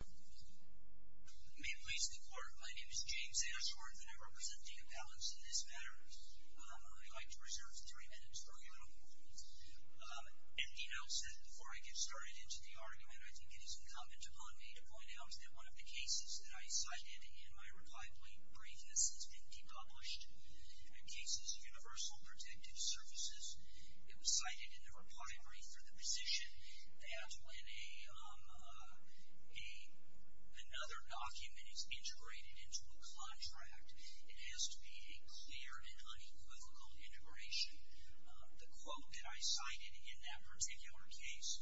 May it please the Court, my name is James Ashworth, and I represent the Appellants in this matter. I'd like to reserve three minutes for a little movement. An email said, before I get started into the argument, I think it is incumbent upon me to point out that one of the cases that I cited in my reply brief, this has been de-published, the case is Universal Protective Services. It was cited in the reply brief for the position that when another document is integrated into a contract, it has to be a clear and unequivocal integration. The quote that I cited in that particular case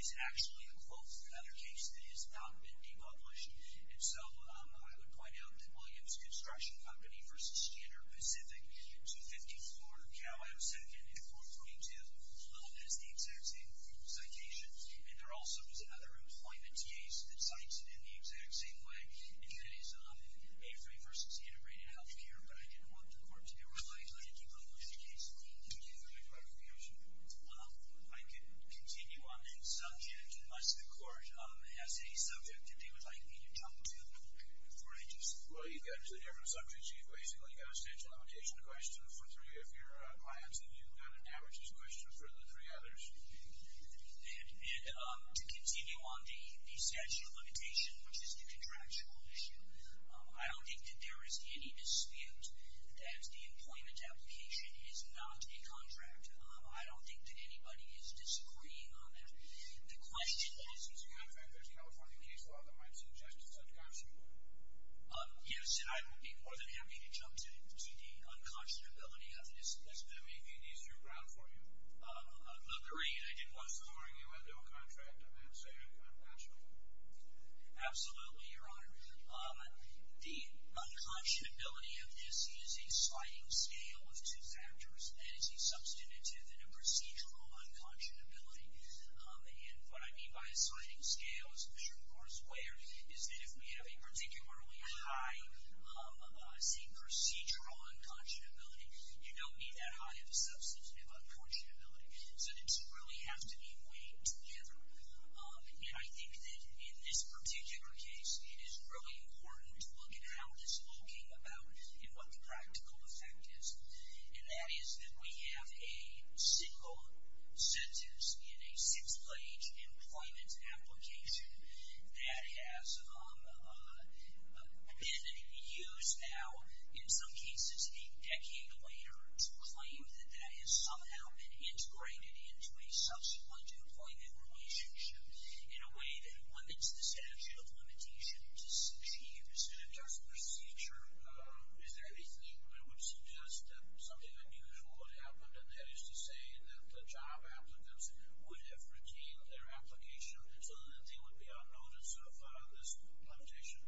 is actually a quote from another case that has not been de-published. And so, I would point out that Williams Construction Company v. Standard Pacific, 254 Cal. I was sitting in at 422. That's the exact same citation. And there also is another employment case that cites it in the exact same way. Again, it's AFA v. Integrated Healthcare. But I didn't want the Court to be reliant on a de-published case for me to do a reply brief. I could continue on that subject, unless the Court has a subject that they would like me to jump to before I do so. Well, you've got two different subjects. You've basically got a statute of limitation question for three of your clients, and you've got an averages question for the three others. And to continue on the statute of limitation, which is the contractual issue, I don't think that there is any dispute that the employment application is not a contract. I don't think that anybody is disagreeing on that. The question is, as a matter of fact, there's a California case law that might suggest it's unconscionable. Yes, and I would be more than happy to jump to the unconscionability of this. That may be an easier ground for you. Look, the reason I did what I was doing, you had no contract, I'm not saying I'm not sure. Absolutely, Your Honor. The unconscionability of this is a sliding scale of two factors. That is, a substantive and a procedural unconscionability. And what I mean by a sliding scale is that if we have a particularly high procedural unconscionability, you don't need that high of a substantive unconscionability. So the two really have to be weighed together. And I think that in this particular case, it is really important to look at how this law came about and what the practical effect is. And that is that we have a single sentence in a six-page employment application that has been used now, in some cases a decade later, to claim that that has somehow been integrated into a subsequent employment relationship in a way that limits this action of limitation to six years. In terms of procedure, is there anything that would suggest that something unusual had happened, and that is to say that the job applicants would have retained their application so that they would be on notice of this limitation?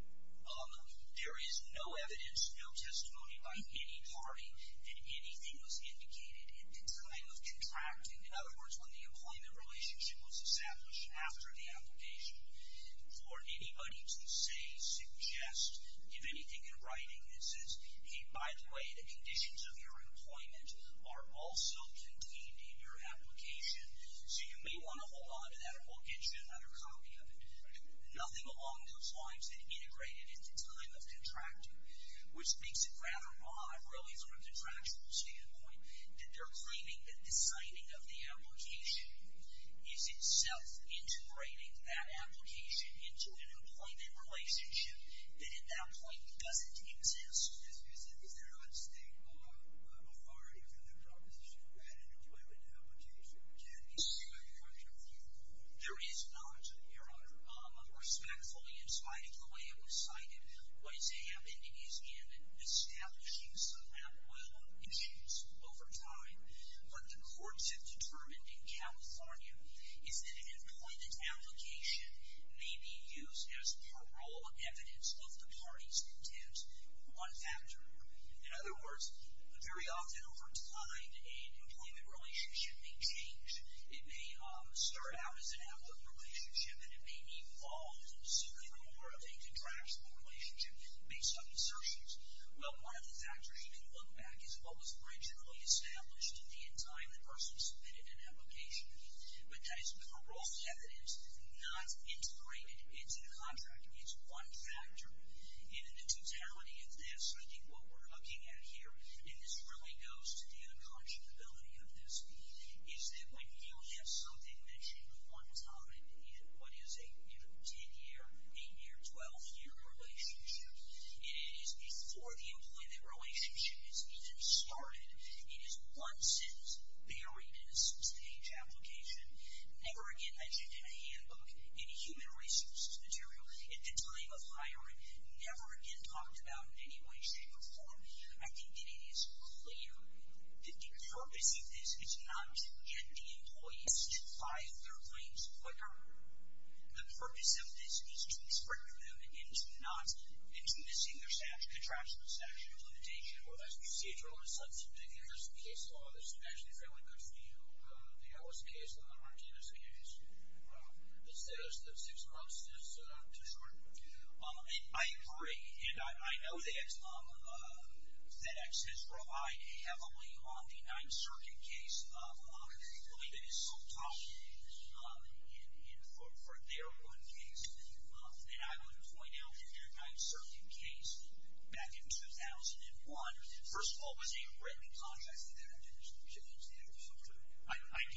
There is no evidence, no testimony by any party, that anything was indicated at the time of contracting. In other words, when the employment relationship was established after the application, for anybody to say, suggest, give anything in writing that says, hey, by the way, the conditions of your employment are also contained in your application, so you may want to hold on to that and we'll get you another copy of it. Nothing along those lines had integrated at the time of contracting, which makes it rather odd, really, from a contractual standpoint, that they're claiming that the signing of the application is itself integrating that application into an employment relationship that at that point doesn't exist. Is there an understated authority or proposition that an employment application can be signed after a year? There is not, Your Honor. Respectfully, in spite of the way it was signed, what is happening is, again, establishing some outweighable issues over time. What the courts have determined in California is that an employment application may be used as parole on evidence of the party's contempt for one factor. In other words, very often over time, an employment relationship may change. It may start out as an outward relationship and then it may evolve into more of a contractual relationship based on assertions. Well, one of the factors you can look back at is what was originally established at the time the person submitted an application. But that is parole evidence not integrated into the contract. It's one factor. In the totality of this, I think what we're looking at here, and this really goes to the unconscionability of this, is that when you have something mentioned one time, either what is a 10-year, 8-year, 12-year relationship, it is before the employment relationship has even started. It is once in the early innocence page application, never again mentioned in a handbook, in human resources material at the time of hiring, never again talked about in any way, shape, or form. I think it is clear that the purpose of this is not to get the employees to buy their claims quicker. The purpose of this is to spring them into not, into missing their contractual satisfaction limitation. Well, as we see it, there's a case law that's actually fairly good for you. There was a case in the Martinez case. The six months is too short. I agree. And I know that FedEx has relied heavily on the 9th Circuit case, one of whom I believe is Sultani, for their one case. And I would point out that their 9th Circuit case back in 2001, first of all, was a written contract.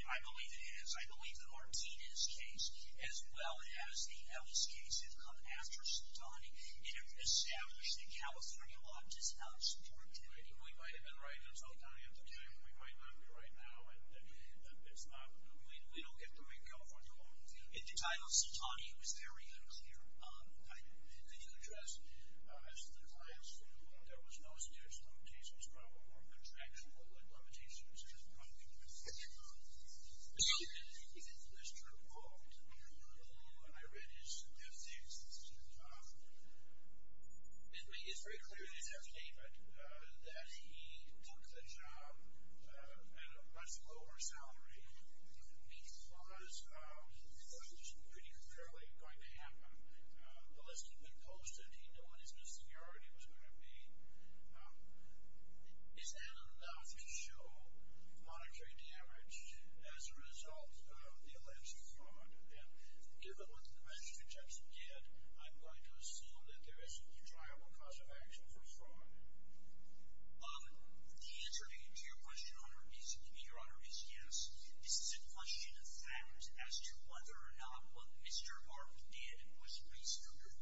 I believe it is. I believe the Martinez case as well as the Ellis case have come after Sultani. It has established that California law does not support that. We might have been right in Sultani at the time. We might not be right now. We don't get to make California law. It did not. Sultani was there. He was here. Did you address Sultani's case? There was no serious limitations, probably more contractual limitations in my view. Mr. Holt, when I read his statistics, it made it very clear to me that he took the job at a much lower salary because it wasn't just pretty clearly going to happen. The list had been posted. He knew what his new seniority was going to be. Is that enough to show monetary damage as a result of the alleged fraud? And given what the magistrate judge did, I'm going to assume that there is a triable cause of action for fraud. The answer to your question, Your Honor, is yes. This is a question of fact as to whether or not what Mr. Hart did was reasonable.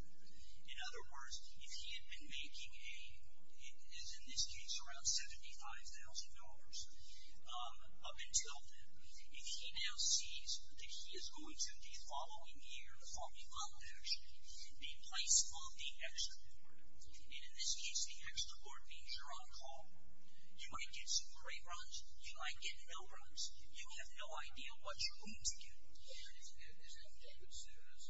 In other words, if he had been making a, as in this case, around $75,000 up until then, if he now sees that he is going to the following year, the following month, actually, be placed on the extra board, and in this case the extra board means you're on call, you might get some great runs, you might get no runs. You have no idea what you're going to get. Is that the case? Yes.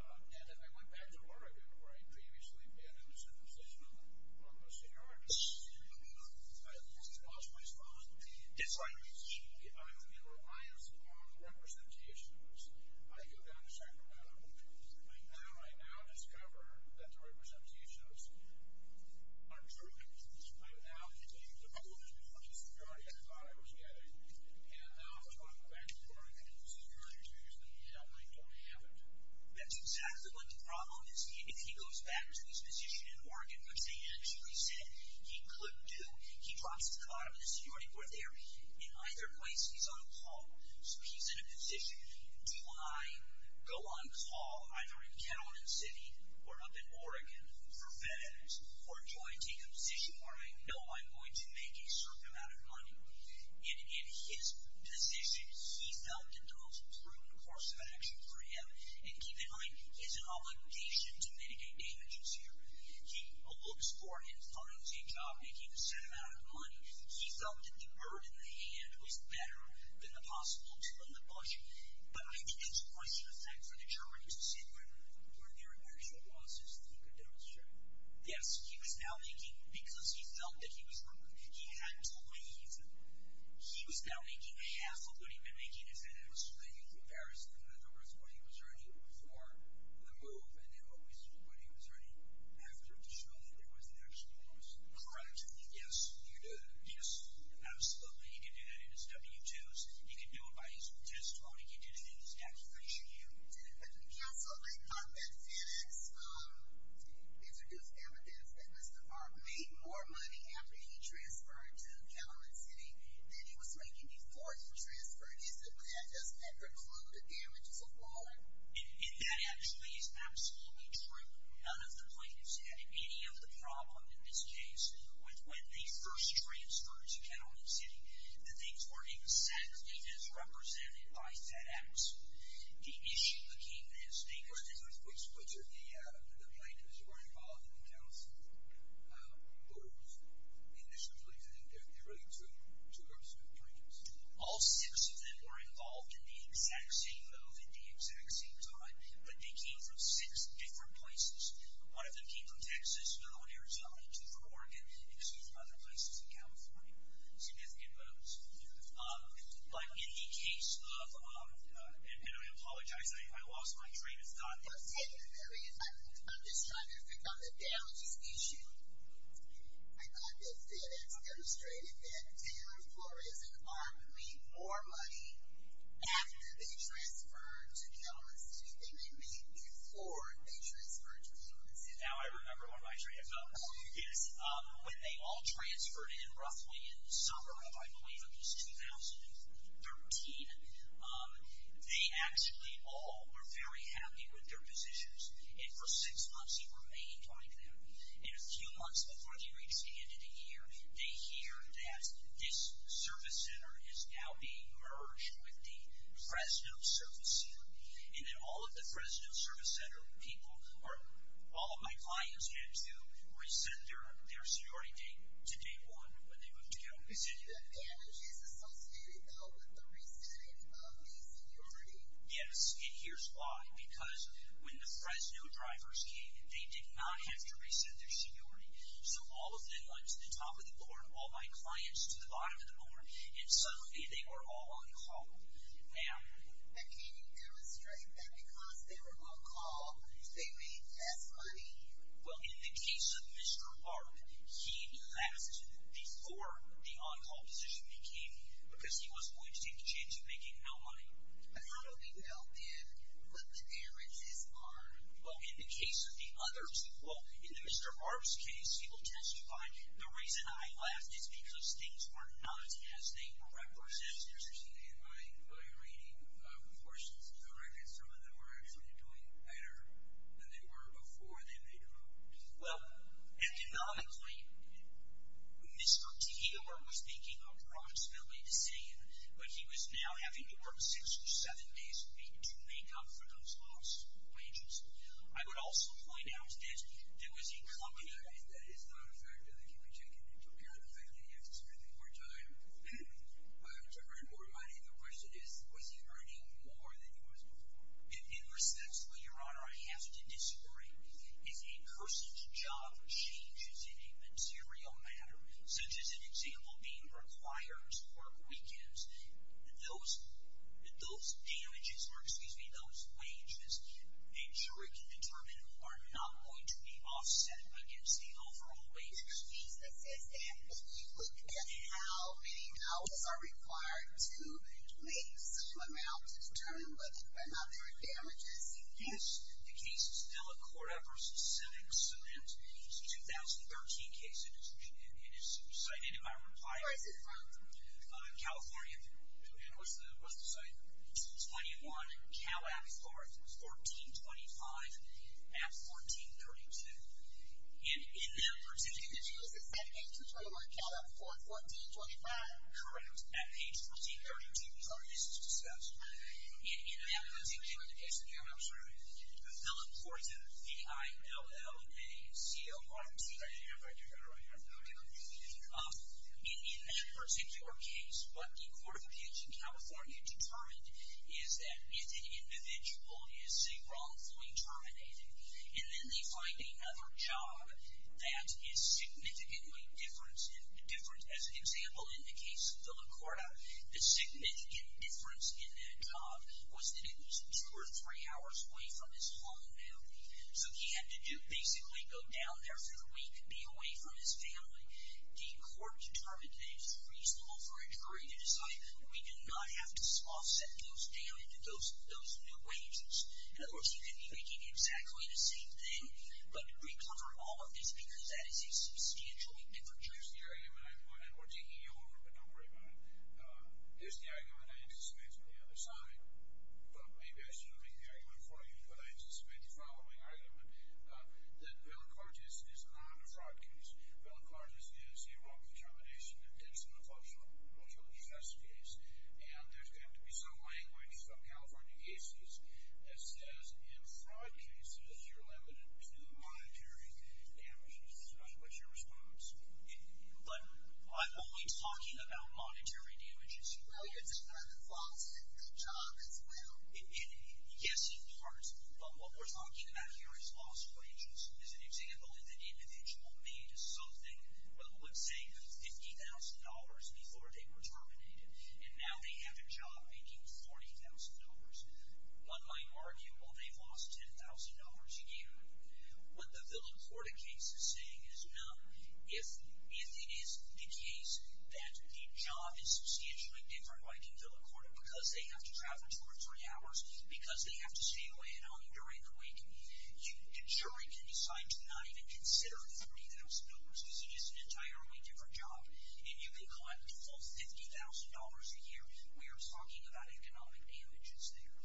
And if I went back to Oregon where I previously did, it was a decision on Mr. Hart. I lost my spot. Yes, Your Honor. I'm in reliance on representations. I go down to Sacramento. I now discover that the representations are true. I now take the rules before the seniority I thought I was getting And if I go back to Oregon, it was the earlier two years that he's not making a payment. That's exactly what the problem is. If he goes back to his position in Oregon, which they actually said he couldn't do, he drops to the bottom of the seniority board there. In either place, he's on call. So he's in a position. Do I go on call either in Kelowna City or up in Oregon for FedEx or do I take a position where I know I'm going to make a certain amount of money? And in his position, he felt that the most prudent course of action for him, and keep in mind, is an obligation to mitigate damages here. He looks for and finds a job making a certain amount of money. He felt the bird in the hand was better than the possible tooth in the bush. But I think it's a question of time for the jury to see where their initial losses were demonstrated. Yes, he was now making, because he felt that he was proven, he had to leave. He was now making a hassle, but he'd been making his head in a swing, in comparison to what he was earning before the move, and then what he was earning after, to show that there was an actual loss. Correct. Yes. You do? Yes, absolutely. He can do that in his W-2s. He can do it by his own testimony. He did it in his application. Did the counsel make comments in his interview with Amethyst that Mr. Farber made more money after he transferred to Kelowna City than he was making before he transferred? Is that what that does? That would include the damages of war? That actually is absolutely true. None of the plaintiffs had any of the problem, in this case, with when they first transferred to Kelowna City. The things weren't even set as represented by FedEx. The issue became this. Any questions on which of the plaintiffs were involved in the counsel? Or was it initially that there were two groups of plaintiffs? All six of them were involved in the exact same vote at the exact same time, but they came from six different places. One of them came from Texas, another one Arizona, two from Oregon, and two from other places in California. Significant votes. Yes. In the case of, and I apologize, I lost my train of thought. I'm just trying to pick on the damages issue. I thought that FedEx demonstrated that Taylor and Flores are making more money after they transferred to Kelowna City than they made before they transferred to Kelowna City. Now I remember where my train of thought was. Yes. When they all transferred in, roughly in the summer of, I believe, at least 2013, they actually all were very happy with their positions, and for six months he remained like that. And a few months before they re-expanded a year, they hear that this service center is now being merged with the Fresno Service Center, and that all of the Fresno Service Center people are, all of my clients had to rescind their seniority date to day one when they moved to Kelowna City. And he's associated, though, with the rescind of his seniority. Yes, and here's why. Because when the Fresno drivers came, they did not have to rescind their seniority. So all of them went to the top of the board, all my clients to the bottom of the board, and suddenly they were all on call. And can you demonstrate that because they were on call, they made less money? Well, in the case of Mr. Barb, he left before the on-call position became, because he was willing to take the chance of making no money. And how do they help him? Well, there is his arm. Well, in the case of the others, well, in Mr. Barb's case, he will testify, the reason I left is because things were not as they were. My four sisters and my reading of portions of the record, some of them were actually doing better than they were before they moved. Well, economically, Mr. Tehela was making approximately the same, but he was now having to work six or seven days a week to make up for those lost wages. I would also point out that there was a company that is not effective. I think you can check in and prepare the family. Yes, it's a really hard time. My other question is, was he earning more than he was before? In a sense, Your Honor, I have to disagree. If a person's job changes in a material matter, such as an example being required to work weekends, those damages, or excuse me, those wages, a jury can determine are not going to be offset against the overall wage. Your defense is that if you look at how many hours are required to make some amount of return, but there are not more damages. Yes. The case is now a court-approved sentence. It's a 2013 case. It is cited in my reply. Where is it from? California. What's the site? 21 Cal Avenue, Florida. 1425 at 1432. In that particular case, it's at page 231, Cal Avenue, Florida. 1425. At page 1332. Your Honor, this is a discussion. In that particular case, Your Honor, I'm sorry, how important the I-L-L-A-C-O-R-T. I didn't have it right there, Your Honor. In that particular case, what the Court of Appeals in California determined is that if an individual is seen wrongfully terminated, and then they find another job that is significantly different, as an example, in the case of the LaCourta, the significant difference in that job was that it was two or three hours away from his home. So he had to basically go down there for the week and be away from his family. The Court determined that it was reasonable for a jury to decide we do not have to offset those wages. Of course, you could be making exactly the same thing, but we covered all of this because that is a substantial difference. Here's the argument, and we're taking you over, but don't worry about it. Here's the argument I anticipated on the other side, but maybe I shouldn't make the argument for you, but I anticipated the following argument, that Villa-Cortez is not a fraud case. Villa-Cortez is a wrongfully termination that ends in a culturally just case, and there's going to be some language from California cases that says, in fraud cases, you're limited to monetary damages. What's your response? But I'm only talking about monetary damages. No, you're talking about the loss of the job as well. Yes, in part, but what we're talking about here is loss of wages, and as an example, if an individual made something, well, let's say $50,000 before they were terminated, and now they have a job making $40,000. One might argue, well, they've lost $10,000 a year. What the Villa-Cortez case is saying is, if it is the case that the job is substantially different like in Villa-Cortez because they have to travel two or three hours, because they have to stay away and home during the week, the jury can decide to not even consider $40,000 because it is an entirely different job, and you can collect a full $50,000 a year. We are talking about economic damages there.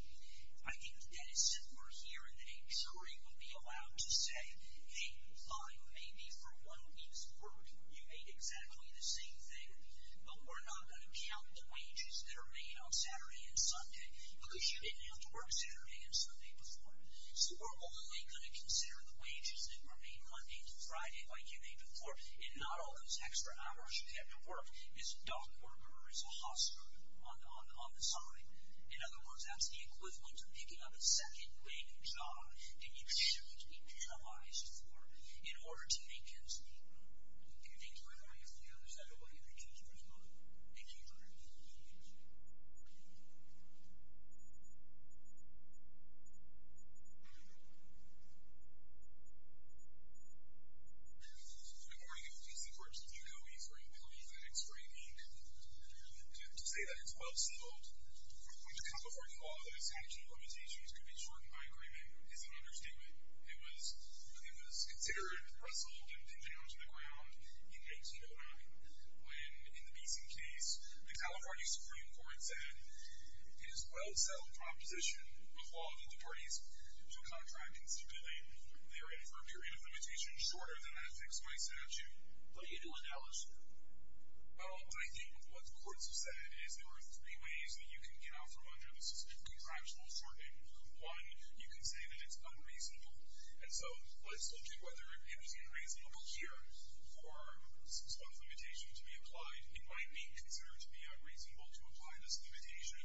I think that if we're here, that a jury would be allowed to say, hey, fine, maybe for one week's work, you made exactly the same thing, but we're not going to count the wages that are made on Saturday and Sunday because you didn't have to work Saturday and Sunday before. So we're only going to consider the wages that were made Monday through Friday like you made before, and not all those extra hours you have to work is dunked or is lost on the side. In other words, that's the equivalent of picking up a second-rate job that you should be penalized for in order to make ends meet. Do you think you're in the right field? Is that what you think you're doing? Do you think you're in the right field? Any other questions? Good morning. I'm Jason Brooks, and I'm going to leave for a couple of minutes to say that it's absurd to point to California law that its statute of limitations could be shortened by agreement. It's an understatement. It was considered and wrestled and pinned down to the ground in 1809 when, in the Beeson case, the California Supreme Court said it is well-settled proposition of law that the parties to a contract constitute a period of limitation shorter than that fixed by statute. But you do acknowledge that. Well, I think what the courts have said is there are three ways that you can get out from under the specific contractual shortening. One, you can say that it's unreasonable. And so let's look at whether anything reasonable here for some sort of limitation to be applied. It might be considered to be unreasonable to apply this limitation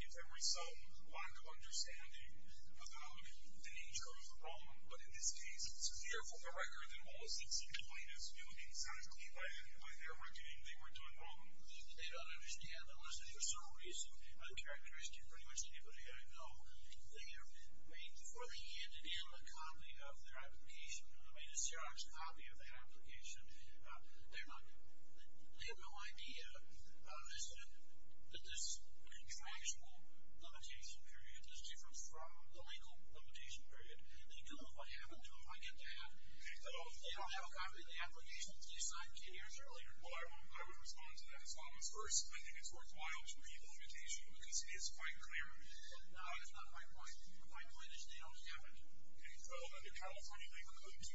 if there were some lack of understanding of the nature of the problem. But in this case, it's a fearful for record that all seats in the plaintiffs' field exactly what they were doing. They weren't doing wrong. They don't understand unless there's some reason. The characteristic of pretty much anybody I know, they have been made for the hand-in-the-coffee of their application. They've been made a serious copy of the application. They have no idea that this contractual limitation period is different from the legal limitation period. They don't know if I have it. They don't know if I get that. They don't have a copy of the application that they signed 10 years earlier. Well, I would respond to that as long as, first, I think it's worthwhile to read the limitation because it is quite clear. No, that's not my point. My point is they don't have it. In California, under Code 232,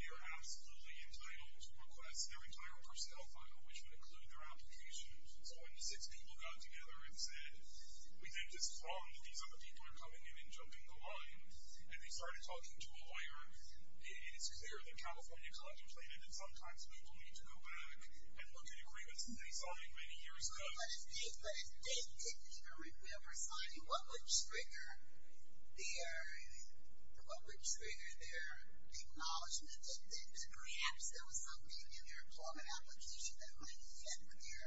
they are absolutely entitled to request their entire personnel file, which would include their application. So when the six people got together and said, we think it's wrong that these other people are coming in and jumping the line, and they started talking to a lawyer, it is clear that California collected plaintiff and sometimes people need to go back and look at agreements they signed many years ago. But if they didn't hear it, we have our signing, what would trigger their acknowledgement that perhaps there was something in their employment application that might be in with their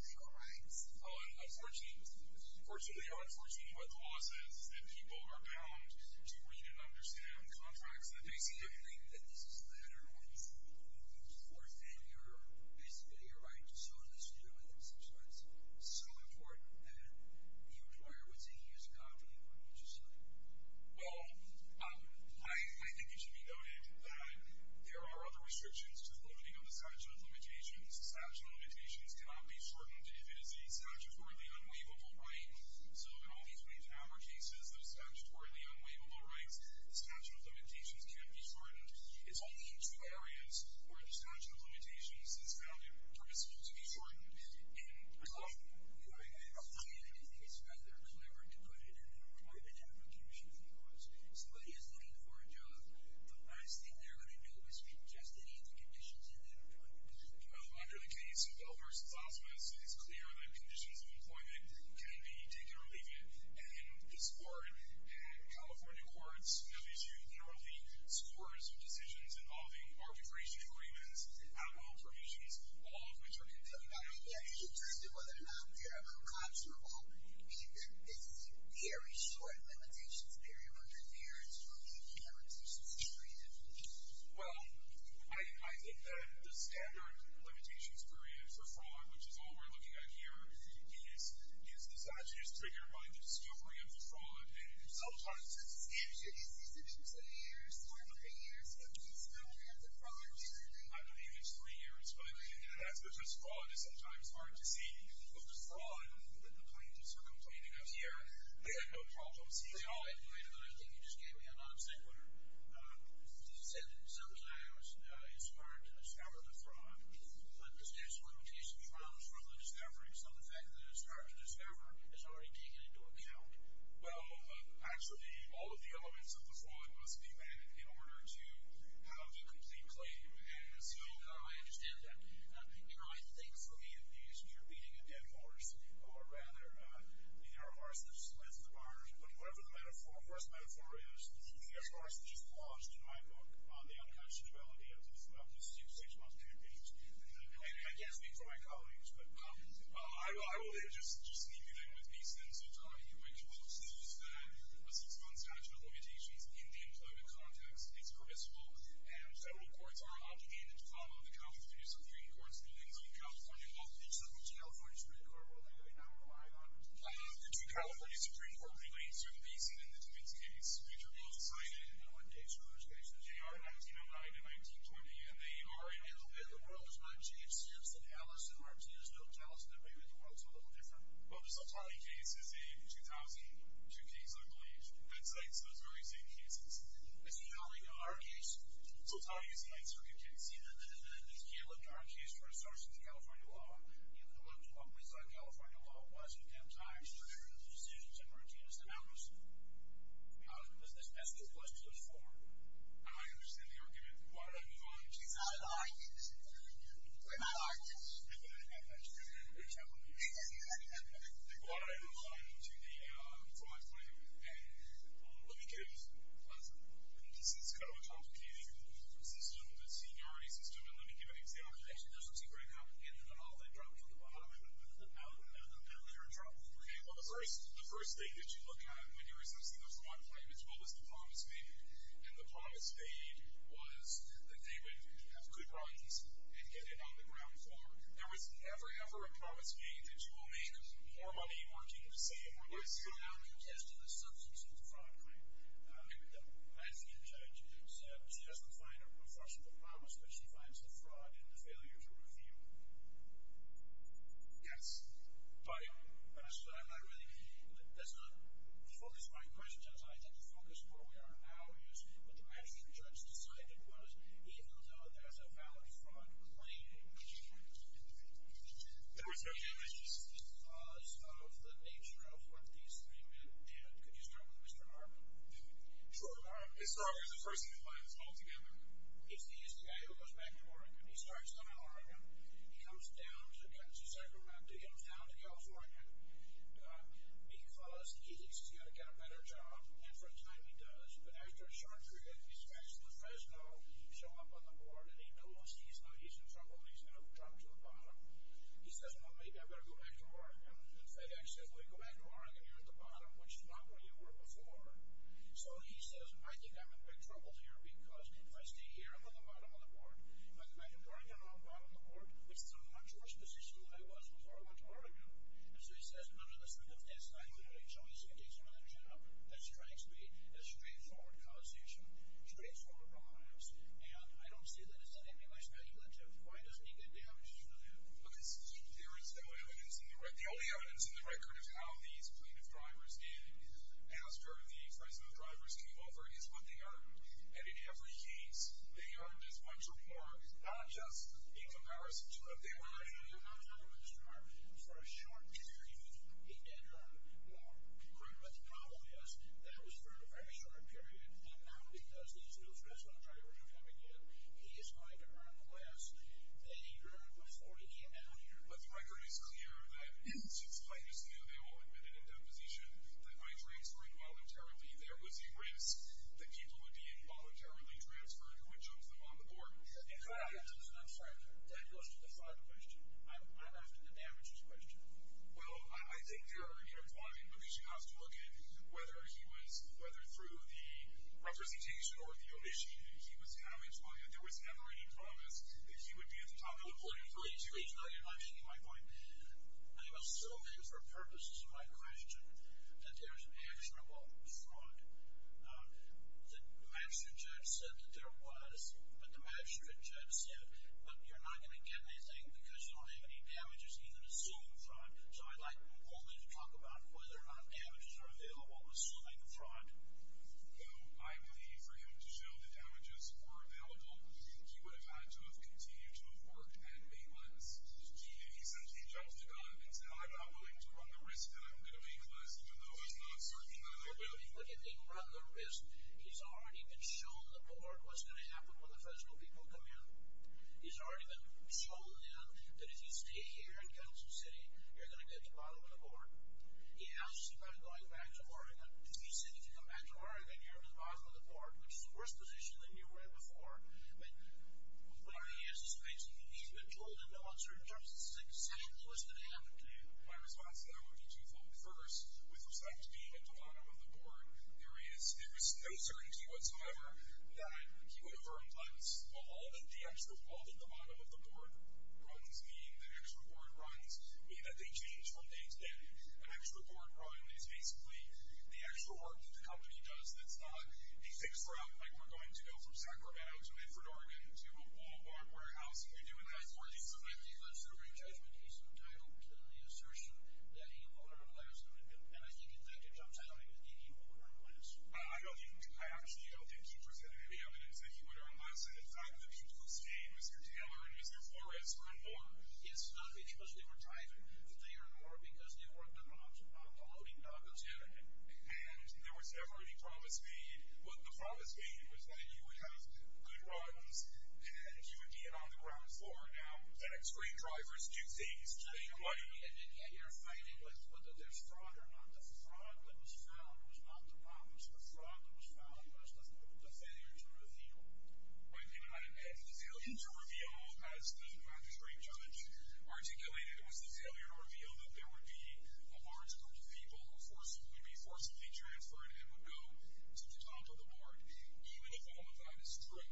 legal rights? Unfortunately, unfortunately, what the law says is that people are bound to read and understand contracts that they signed. Do you think that this is a matter of when you forfeit your, basically, your right to so-and-so's human rights, so it's so important that the employer would see years ago after the appointment was signed? Well, I think it should be noted that there are other restrictions to voting on the statute of limitations. The statute of limitations cannot be shortened if it is a statutorily unwaivable right. So in all these main power cases, those statutorily unwaivable rights, the statute of limitations can't be shortened. It's only in two areas where the statute of limitations is valid for it to be shortened. In California, I think it is better to put it in an employment application because if somebody is looking for a job, the last thing they're going to know is just any of the conditions in that employment application. Under the case of Elmer Stasmas, it's clear that conditions of employment can be taken or leaven. And this board, California Courts, now issue yearly scores of decisions involving arbitration agreements, out-of-home provisions, all of which are concerned. Are you interested whether or not you're a conservant in this very short limitations period under there in terms of the limitations period? Well, I think that the standard limitations period for fraud, which is all we're looking at here, is the statute is triggered by the discovery of the fraud, and sometimes it's... Is it two to three years, four to three years, 15 to 20 years of fraud? I believe it's three years, but that's because fraud is sometimes hard to see. Well, the fraud that the plaintiffs are complaining of here, they had no problem seeing. Oh, I believe it, but I think you just gave me a non-sequitur. You said that sometimes it's hard to discover the fraud, but the statute of limitations runs from the discovery, so the fact that it's hard to discover is already taken into account. Well, actually, all of the elements of the fraud must be met in order to have a complete claim, and so I understand that. You know, I think, for me, in the issue of beating a dead horse, or rather, the arrow of arsonists is the lens of the barners, but whatever the first metaphor is, the arrow of arsonists is lost in my book on the unpassionability of the six-month campaign. And I can't speak for my colleagues, but I will just leave you there with these things. You're right. Well, the statute of limitations in the employment context is permissible, and several courts are obligated to follow the California Supreme Court's rulings on California law, except for the California Supreme Court, which I do not rely on. The California Supreme Court relates to the Mason and the Davis case, which are both cited in the one case for those cases. They are 1909 and 1920, and they are in a little bit of the world as much. It seems that Alice and Martinus know that Alice and David in the world is a little different. But the Soltani case is a 2002 case, I believe, that cites those very same cases. As you know, in our case, Soltani is the answer, if you can see that. He looked at our case for assertions of California law, and he looked at what was on California law, Washington Times, and the decisions of Martinus and Alice. That's what the question was for. Am I understanding the argument? She's out of the audience. We're not audience. That's true. They brought it over to the fine claim. This is kind of a complicating system, the seniority system, and let me give an example. Actually, there's some secrecy here. They brought it to the bottom, and they're in trouble. The first thing that you look at when you're assessing the fine claim as well as the promise made, and the promise made was that David would have good rights and get it on the ground floor. There was never, ever a promise made that you will make more money working in the same way. Let's go now to the test of the substance of the fraud claim. The Manningham judge said she doesn't find a professional promise, but she finds the fraud in the failure to review it. Yes. That's not the focus of my question. I think the focus of what we are now is what the Manningham judge decided was even though there's a valid fraud claim. There was no damages because of the nature of what these three men did. Could you start with Mr. Harmon? Sure. Mr. Harmon is the person who finds all together. It's the STI who goes back to Oregon. He starts in Oregon. He comes down to Kansas every month to get him found in California because he thinks he's going to get a better job than for the time he does. But after a short period, he starts in Fresno, shows up on the board, and he knows he's in trouble and he's going to drop to the bottom. He says, well, maybe I better go back to Oregon. And FedEx says, go back to Oregon. You're at the bottom, which is not where you were before. So he says, I think I'm in big trouble here because if I stay here, I'm on the bottom of the board. If I come back to Oregon, I'm on the bottom of the board. It's so much worse position than I was before I went to Oregon. And so he says, none of the certificates I have is going to get you another job. That strikes me as straightforward conversation. Straightforward bias. And I don't see that as anything less speculative. Why doesn't he get the evidence for that? Look, there is no evidence in the record. The only evidence in the record of how these plaintiff drivers did after the Fresno drivers came over is what they argued. And in every case, they argued as much or more, not just in comparison to what they argued. For a short period, he did argue what the problem is, that it was for a very short period, and that because these new Fresno drivers are coming in, he is going to earn less than he earned before he came down here. But the record is clear that since plaintiffs knew they all had been in a position that might raise for involuntary fee, there was a risk that people would be involuntarily I'm sorry, that goes to the final question. I'm asking the damages question. Well, I think there are intertwined, but we should have to look at whether he was whether through the representation or the omission that he was having telling that there was never any promise that he would be at the top of the podium. Please, please, no, you're not changing my point. I was so in for purpose to my question that there's actionable fraud. The magistrate judge said that there was, but the magistrate judge said, but you're not going to get anything because you don't have any damages even assuming fraud. So I'd like all of you to talk about whether or not damages are available assuming fraud. Well, I believe for him to show the damages were available he would have had to have continued to have worked at maintenance. If he says he jumped the gun and said I'm not willing to run the risk that I'm going to maintenance even though I was not certain that I would. Look, if he'd run the risk he's already been shown the part what's going to happen when the federal people come in. He's already been shown that if you stay here and go to the city, you're going to get to the bottom of the board. He asks you about going back to Oregon. If you say you can come back to Oregon, you're at the bottom of the board. Which is a worse position than you were in before. When he has his face and he's been told in no uncertain terms this is a decision, so what's going to happen to you? My response to that would be twofold. First, with respect to being at the bottom of the board, there is no certainty whatsoever that I would actually fall to the bottom of the board. What those mean, the extra board runs mean that they change from day to day. An extra board run is basically the extra work that the company does that's not a fixed route like we're going to go from Sacramento to Medford, Oregon to a Walmart warehouse and we're doing that for a reason. So if he lives through a judgment case, can I assertion that he won't arrest him and if he did that, it jumps out at me that he won't arrest him. I actually don't think he presented any evidence that he would earn less. In fact, the people who stayed, Mr. Taylor and Mr. Flores were in war. It's not because they were driving, but they were in war because they were the loading dogs. And there was never any promise made. What the promise made was that you would have good runs and you would be an on the ground floor. Now, the next three drivers do things to their money. And yet you're fighting with whether there's fraud or not. The fraud that was found was not the bomb. It's the fraud that was found as much as the failure to reveal. My opinion on that is that the failure to reveal, as the Supreme Judge articulated, was the failure to reveal that there would be a large group of people who would be forcibly transferred and would go to the top of the board, even if all of that is true.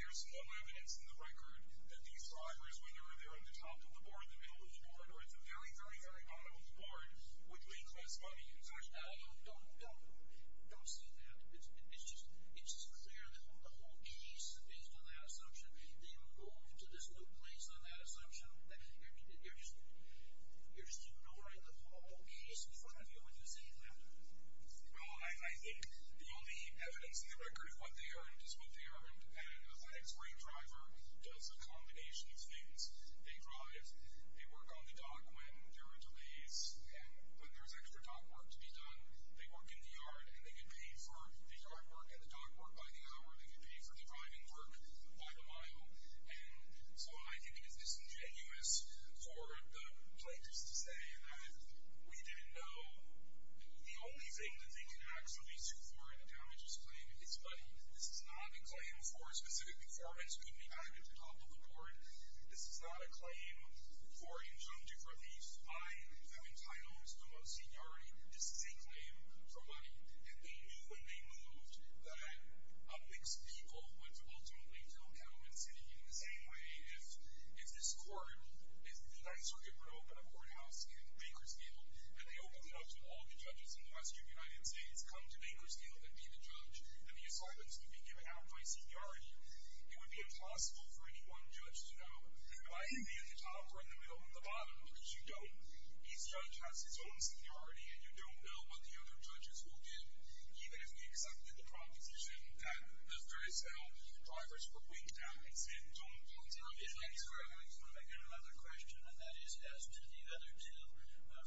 There's no evidence in the record that these drivers, whenever they're on the top of the board, the middle of the board, or at the very, very very bottom of the board, would make less money. So I don't see that. It's just unclear that the whole case, based on that assumption, that you would go to this low place on that assumption. You're just ignoring the whole case in front of you when you say that. Well, I think the only evidence in the record is what they earned, and the next three drivers does a combination of things. They drive, they work on the dock when there are delays, and when there's extra dock work to be done, they work in the yard, and they get paid for the yard work and the dock work by the hour. They get paid for the driving work by the mile. And so I think it is disingenuous for the plaintiffs to say that we didn't know. The only thing that they can actually sue for in a damages claim is money. This is not a claim for specific performance could be added to the top of the board. This is not a claim for injunctive reviews. I have entitled the most seniority to seek claim for money, and they knew when they moved that a mix of people would ultimately go down in the city in the same way. If this court, if the United Circuit were to open a courthouse in Bakersfield and they opened it up to all the judges in the rest of the United States, come to Bakersfield and be the judge, and the assignments would be given out by seniority, it would be impossible for any one judge to know. If I didn't be at the top or in the middle or the bottom, which you don't, each judge has his own seniority and you don't know what the other judges will do, even if we accepted the proposition that the very same drivers were going down. It's an important point. I've got another question, and that is as to the other two,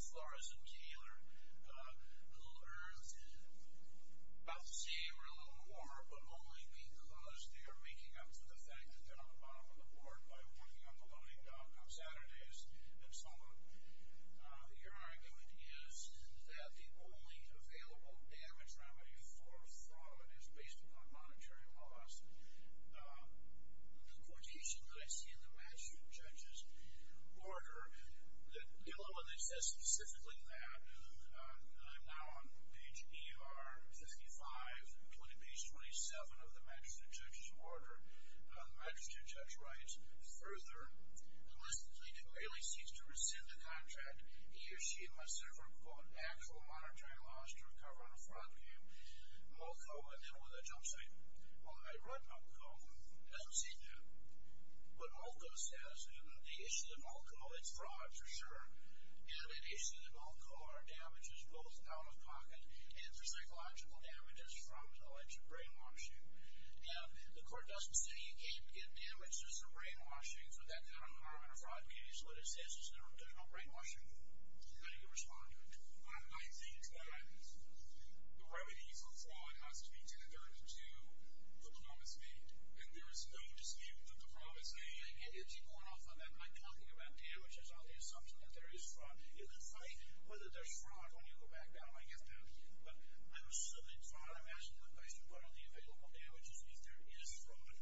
Flores and Taylor, who are about to say they're a little more, but only because they are making up to the fact that they're on the bottom of the board by working on the loading dock on Saturdays and so on. Your argument is that the only available damage remedy for fraud is based upon monetary loss. The quotation that I see in the magistrate judge's order that says specifically on page ER 55, including page 27 of the magistrate judge's order, the magistrate judge writes further, and listens and clearly seeks to rescind the contract he or she must sever actual monetary loss to recover on a fraud claim. Molko, and then with a jumpsuit. Well, I read Molko, as does he do. But Molko says the issue that Molko, it's fraud for sure, and the issue that Molko are damages both out-of-pocket and for psychological damages from alleged brain washing. Now, the court doesn't say you can't get damage, there's some brain washing, so that's not a harm in a fraud case, but it says there's no brain washing. How do you respond to it? I think that the remedy for fraud has to be to adhere to the promise made, and there is no dispute with the promise made. I'm talking about damages, not the assumption that there is fraud in the fight, whether there's fraud when you go back down, I guess not. But I was talking about damages, and if there is fraud,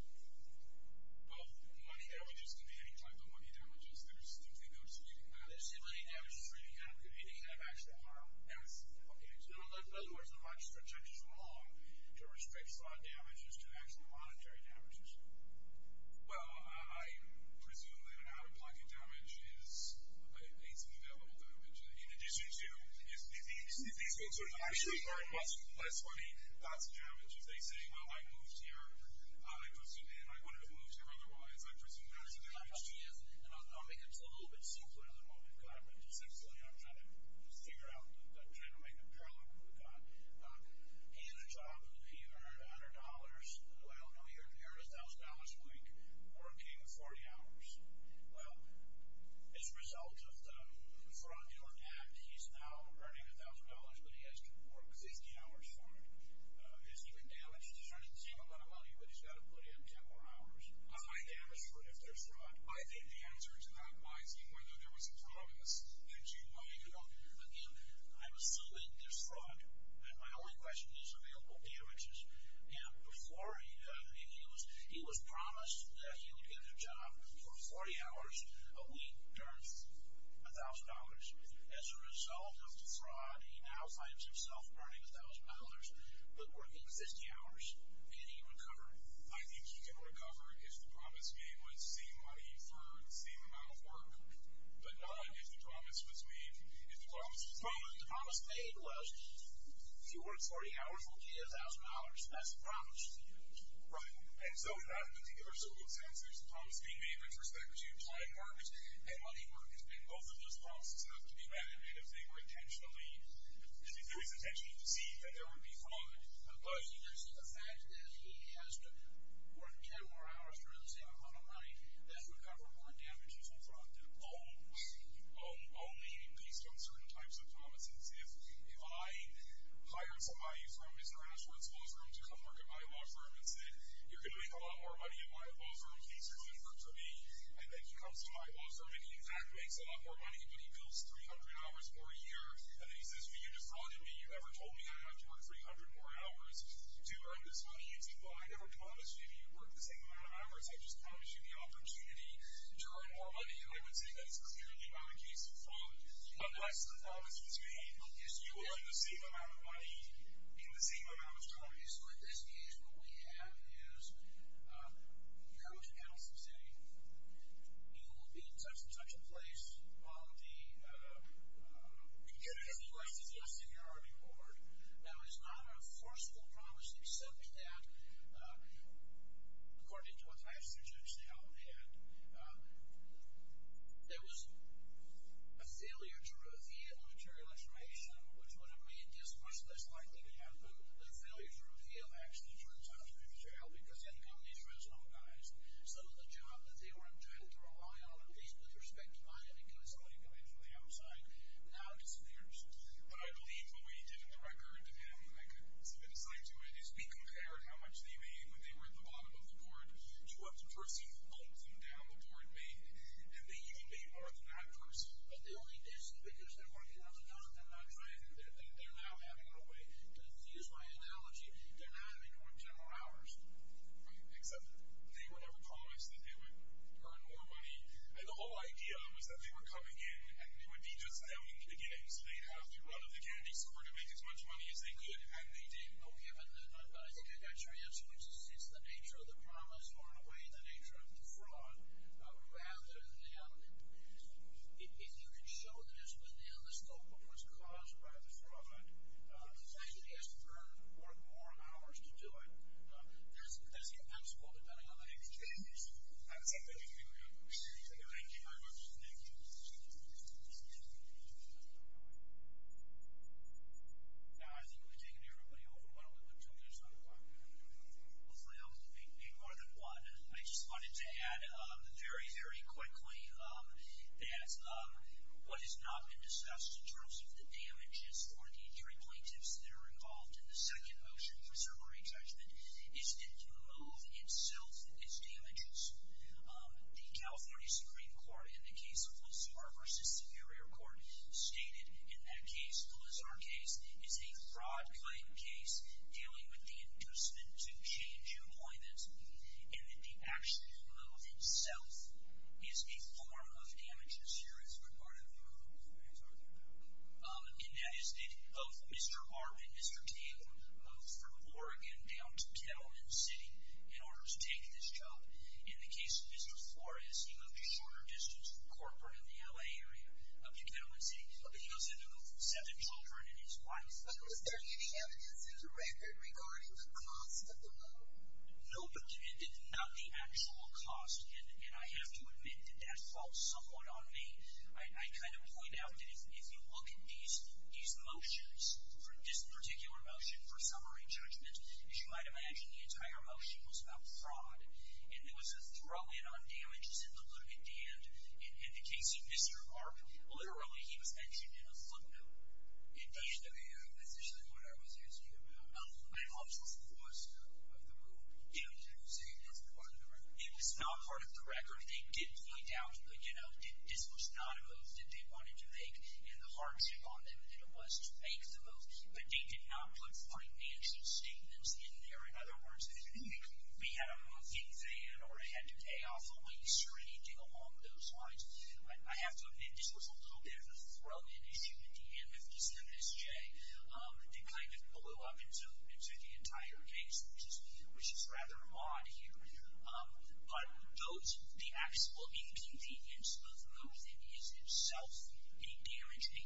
both money damages can be any type of money damages, there's no dispute. Now, does the money damages really have any kind of actual harm? In other words, are my projections wrong to respect fraud damages to actual monetary damages? Well, I presume that an out-of-pocket damage is a development damage. In addition to, if these folks are actually earning less money, that's a damage. If they say, well, I moved here, and I wouldn't have moved here otherwise, I presume that's a damage. I'll make this a little bit simpler than what we've got, but essentially I'm trying to figure out, trying to make a problem that we've got. He had a job, and he earned $100. Well, no, he earned $1,000 a week, working 40 hours. Well, as a result of the fraudulent act, he's now earning $1,000, but he has to work 60 hours for it. Is he being damaged? He's earning the same amount of money, but he's got to put in 10 more hours. High damage for if there's fraud. I think the answer to that might be whether there was a problem with the due money. Again, I'm assuming there's fraud, and my only question is are there real damages? And before he was promised that he would get a job for 40 hours a week to earn $1,000. As a result of the fraud, he now finds himself earning $1,000, but working 60 hours. Can he recover? I think he can recover if the promise made was same money for the same amount of work, but not if the promise was made. If the promise paid was fewer 40 hours will pay $1,000. That's the promise. Right. And so that particular circumstance is the promise being made with respect to client market and money market. Both of those promises have to be met if they were intentionally if he did it intentionally to see that there would be fraud. But the fact that he has to work 10 more hours for the same amount of money, does he recover more damages or fraud? Only based on certain types of promises. If I hired somebody from Mr. Ashworth's law firm to come work at my law firm and said, you're going to make a lot more money at my law firm in case you're at my law firm, and he in fact makes a lot more money but he bills $300 more a year and then he says, you defrauded me. You never told me I'd have to work $300 more hours to earn this money. I never promised you that you'd work the same amount of hours. I just promised you the opportunity to earn more money. And I would say that's clearly not a case of fraud. Unless the promise was made is you will earn the same amount of money in the same amount of time. So at this stage what we have is a huge house of saying you will be in such and such a place on the beginning of the rest of the seniority board. Now it's not a forceful promise except that according to what I've suggested now that there was a failure to reveal the material information which would have made this much less likely to happen. The failure to reveal actually turns out to be material because I think of these Fresno guys. So the job that they were intended to rely on at least with respect to money because all you could make from the outside now disappears. But I believe what we did in the record, depending on if I could submit a site to it, is we compared how much they made when they were at the bottom of the board to what the person holding down the board made. And they even made more than that person. But they only did so because they weren't in on the job. They're not trying. They're now having a way, to use my analogy, they're not in on general hours except that they would ever promise that they would earn more money. And the whole idea was that they were coming in and it would be just them in the games. They'd have the run of the candy store to make as much money as they could. And they did. Well given that, I think I got your answer which is it's the nature of the promise or in a way the nature of the fraud rather than if you can show this within the scope of what's caused by the fraud the person has to earn more hours to do it. That's impenetrable depending on the exchange rate. Thank you very much. Now I think we've taken everybody over. Why don't we put two minutes on the clock. Hopefully I was able to make more than one. I just wanted to add very, very quickly that what has not been discussed in terms of the damages for the jury plaintiffs that are involved in the second motion for certiorari judgment is that the move itself is damages. The California Supreme Court in the case of Lazar versus Superior Court stated in that case, the Lazar case is a fraud claim case dealing with the inducement to change employment and that the actual move itself is a form of damages. Here is what part of the and that is that both Mr. Arvin and Mr. Taylor moved from Oregon down to Kettleman City in order to take this job. In the case of Mr. Flores, he moved a shorter distance from Corcoran in the LA area up to Kettleman City but he was able to move seven children and his wife. Was there any evidence as a record regarding the cost of the move? Nope, not the actual cost and I have to admit that that falls somewhat on me. I kind of point out that if you look at these motions, this particular motion for certiorari judgment as you might imagine, the entire motion was about fraud and there was a throw in on damages in the limited end. In the case of Mr. Arvin, literally he was mentioned in a footnote. That's actually what I was asking about. I thought this was the cost of the move. Did you say that's part of the record? It was not part of the record. They did point out that this was not a move that they wanted to make and the hardship on them was to make the move but they did not put financial statements in there. In other words, we had a move in there or it had to pay off a lease or anything along those lines. I have to admit this was a little bit of a throw in issue in the M57SJ. It kind of blew up into the entire case which is rather odd here. But those, the actual inconvenience of the move is itself a guarantee cost.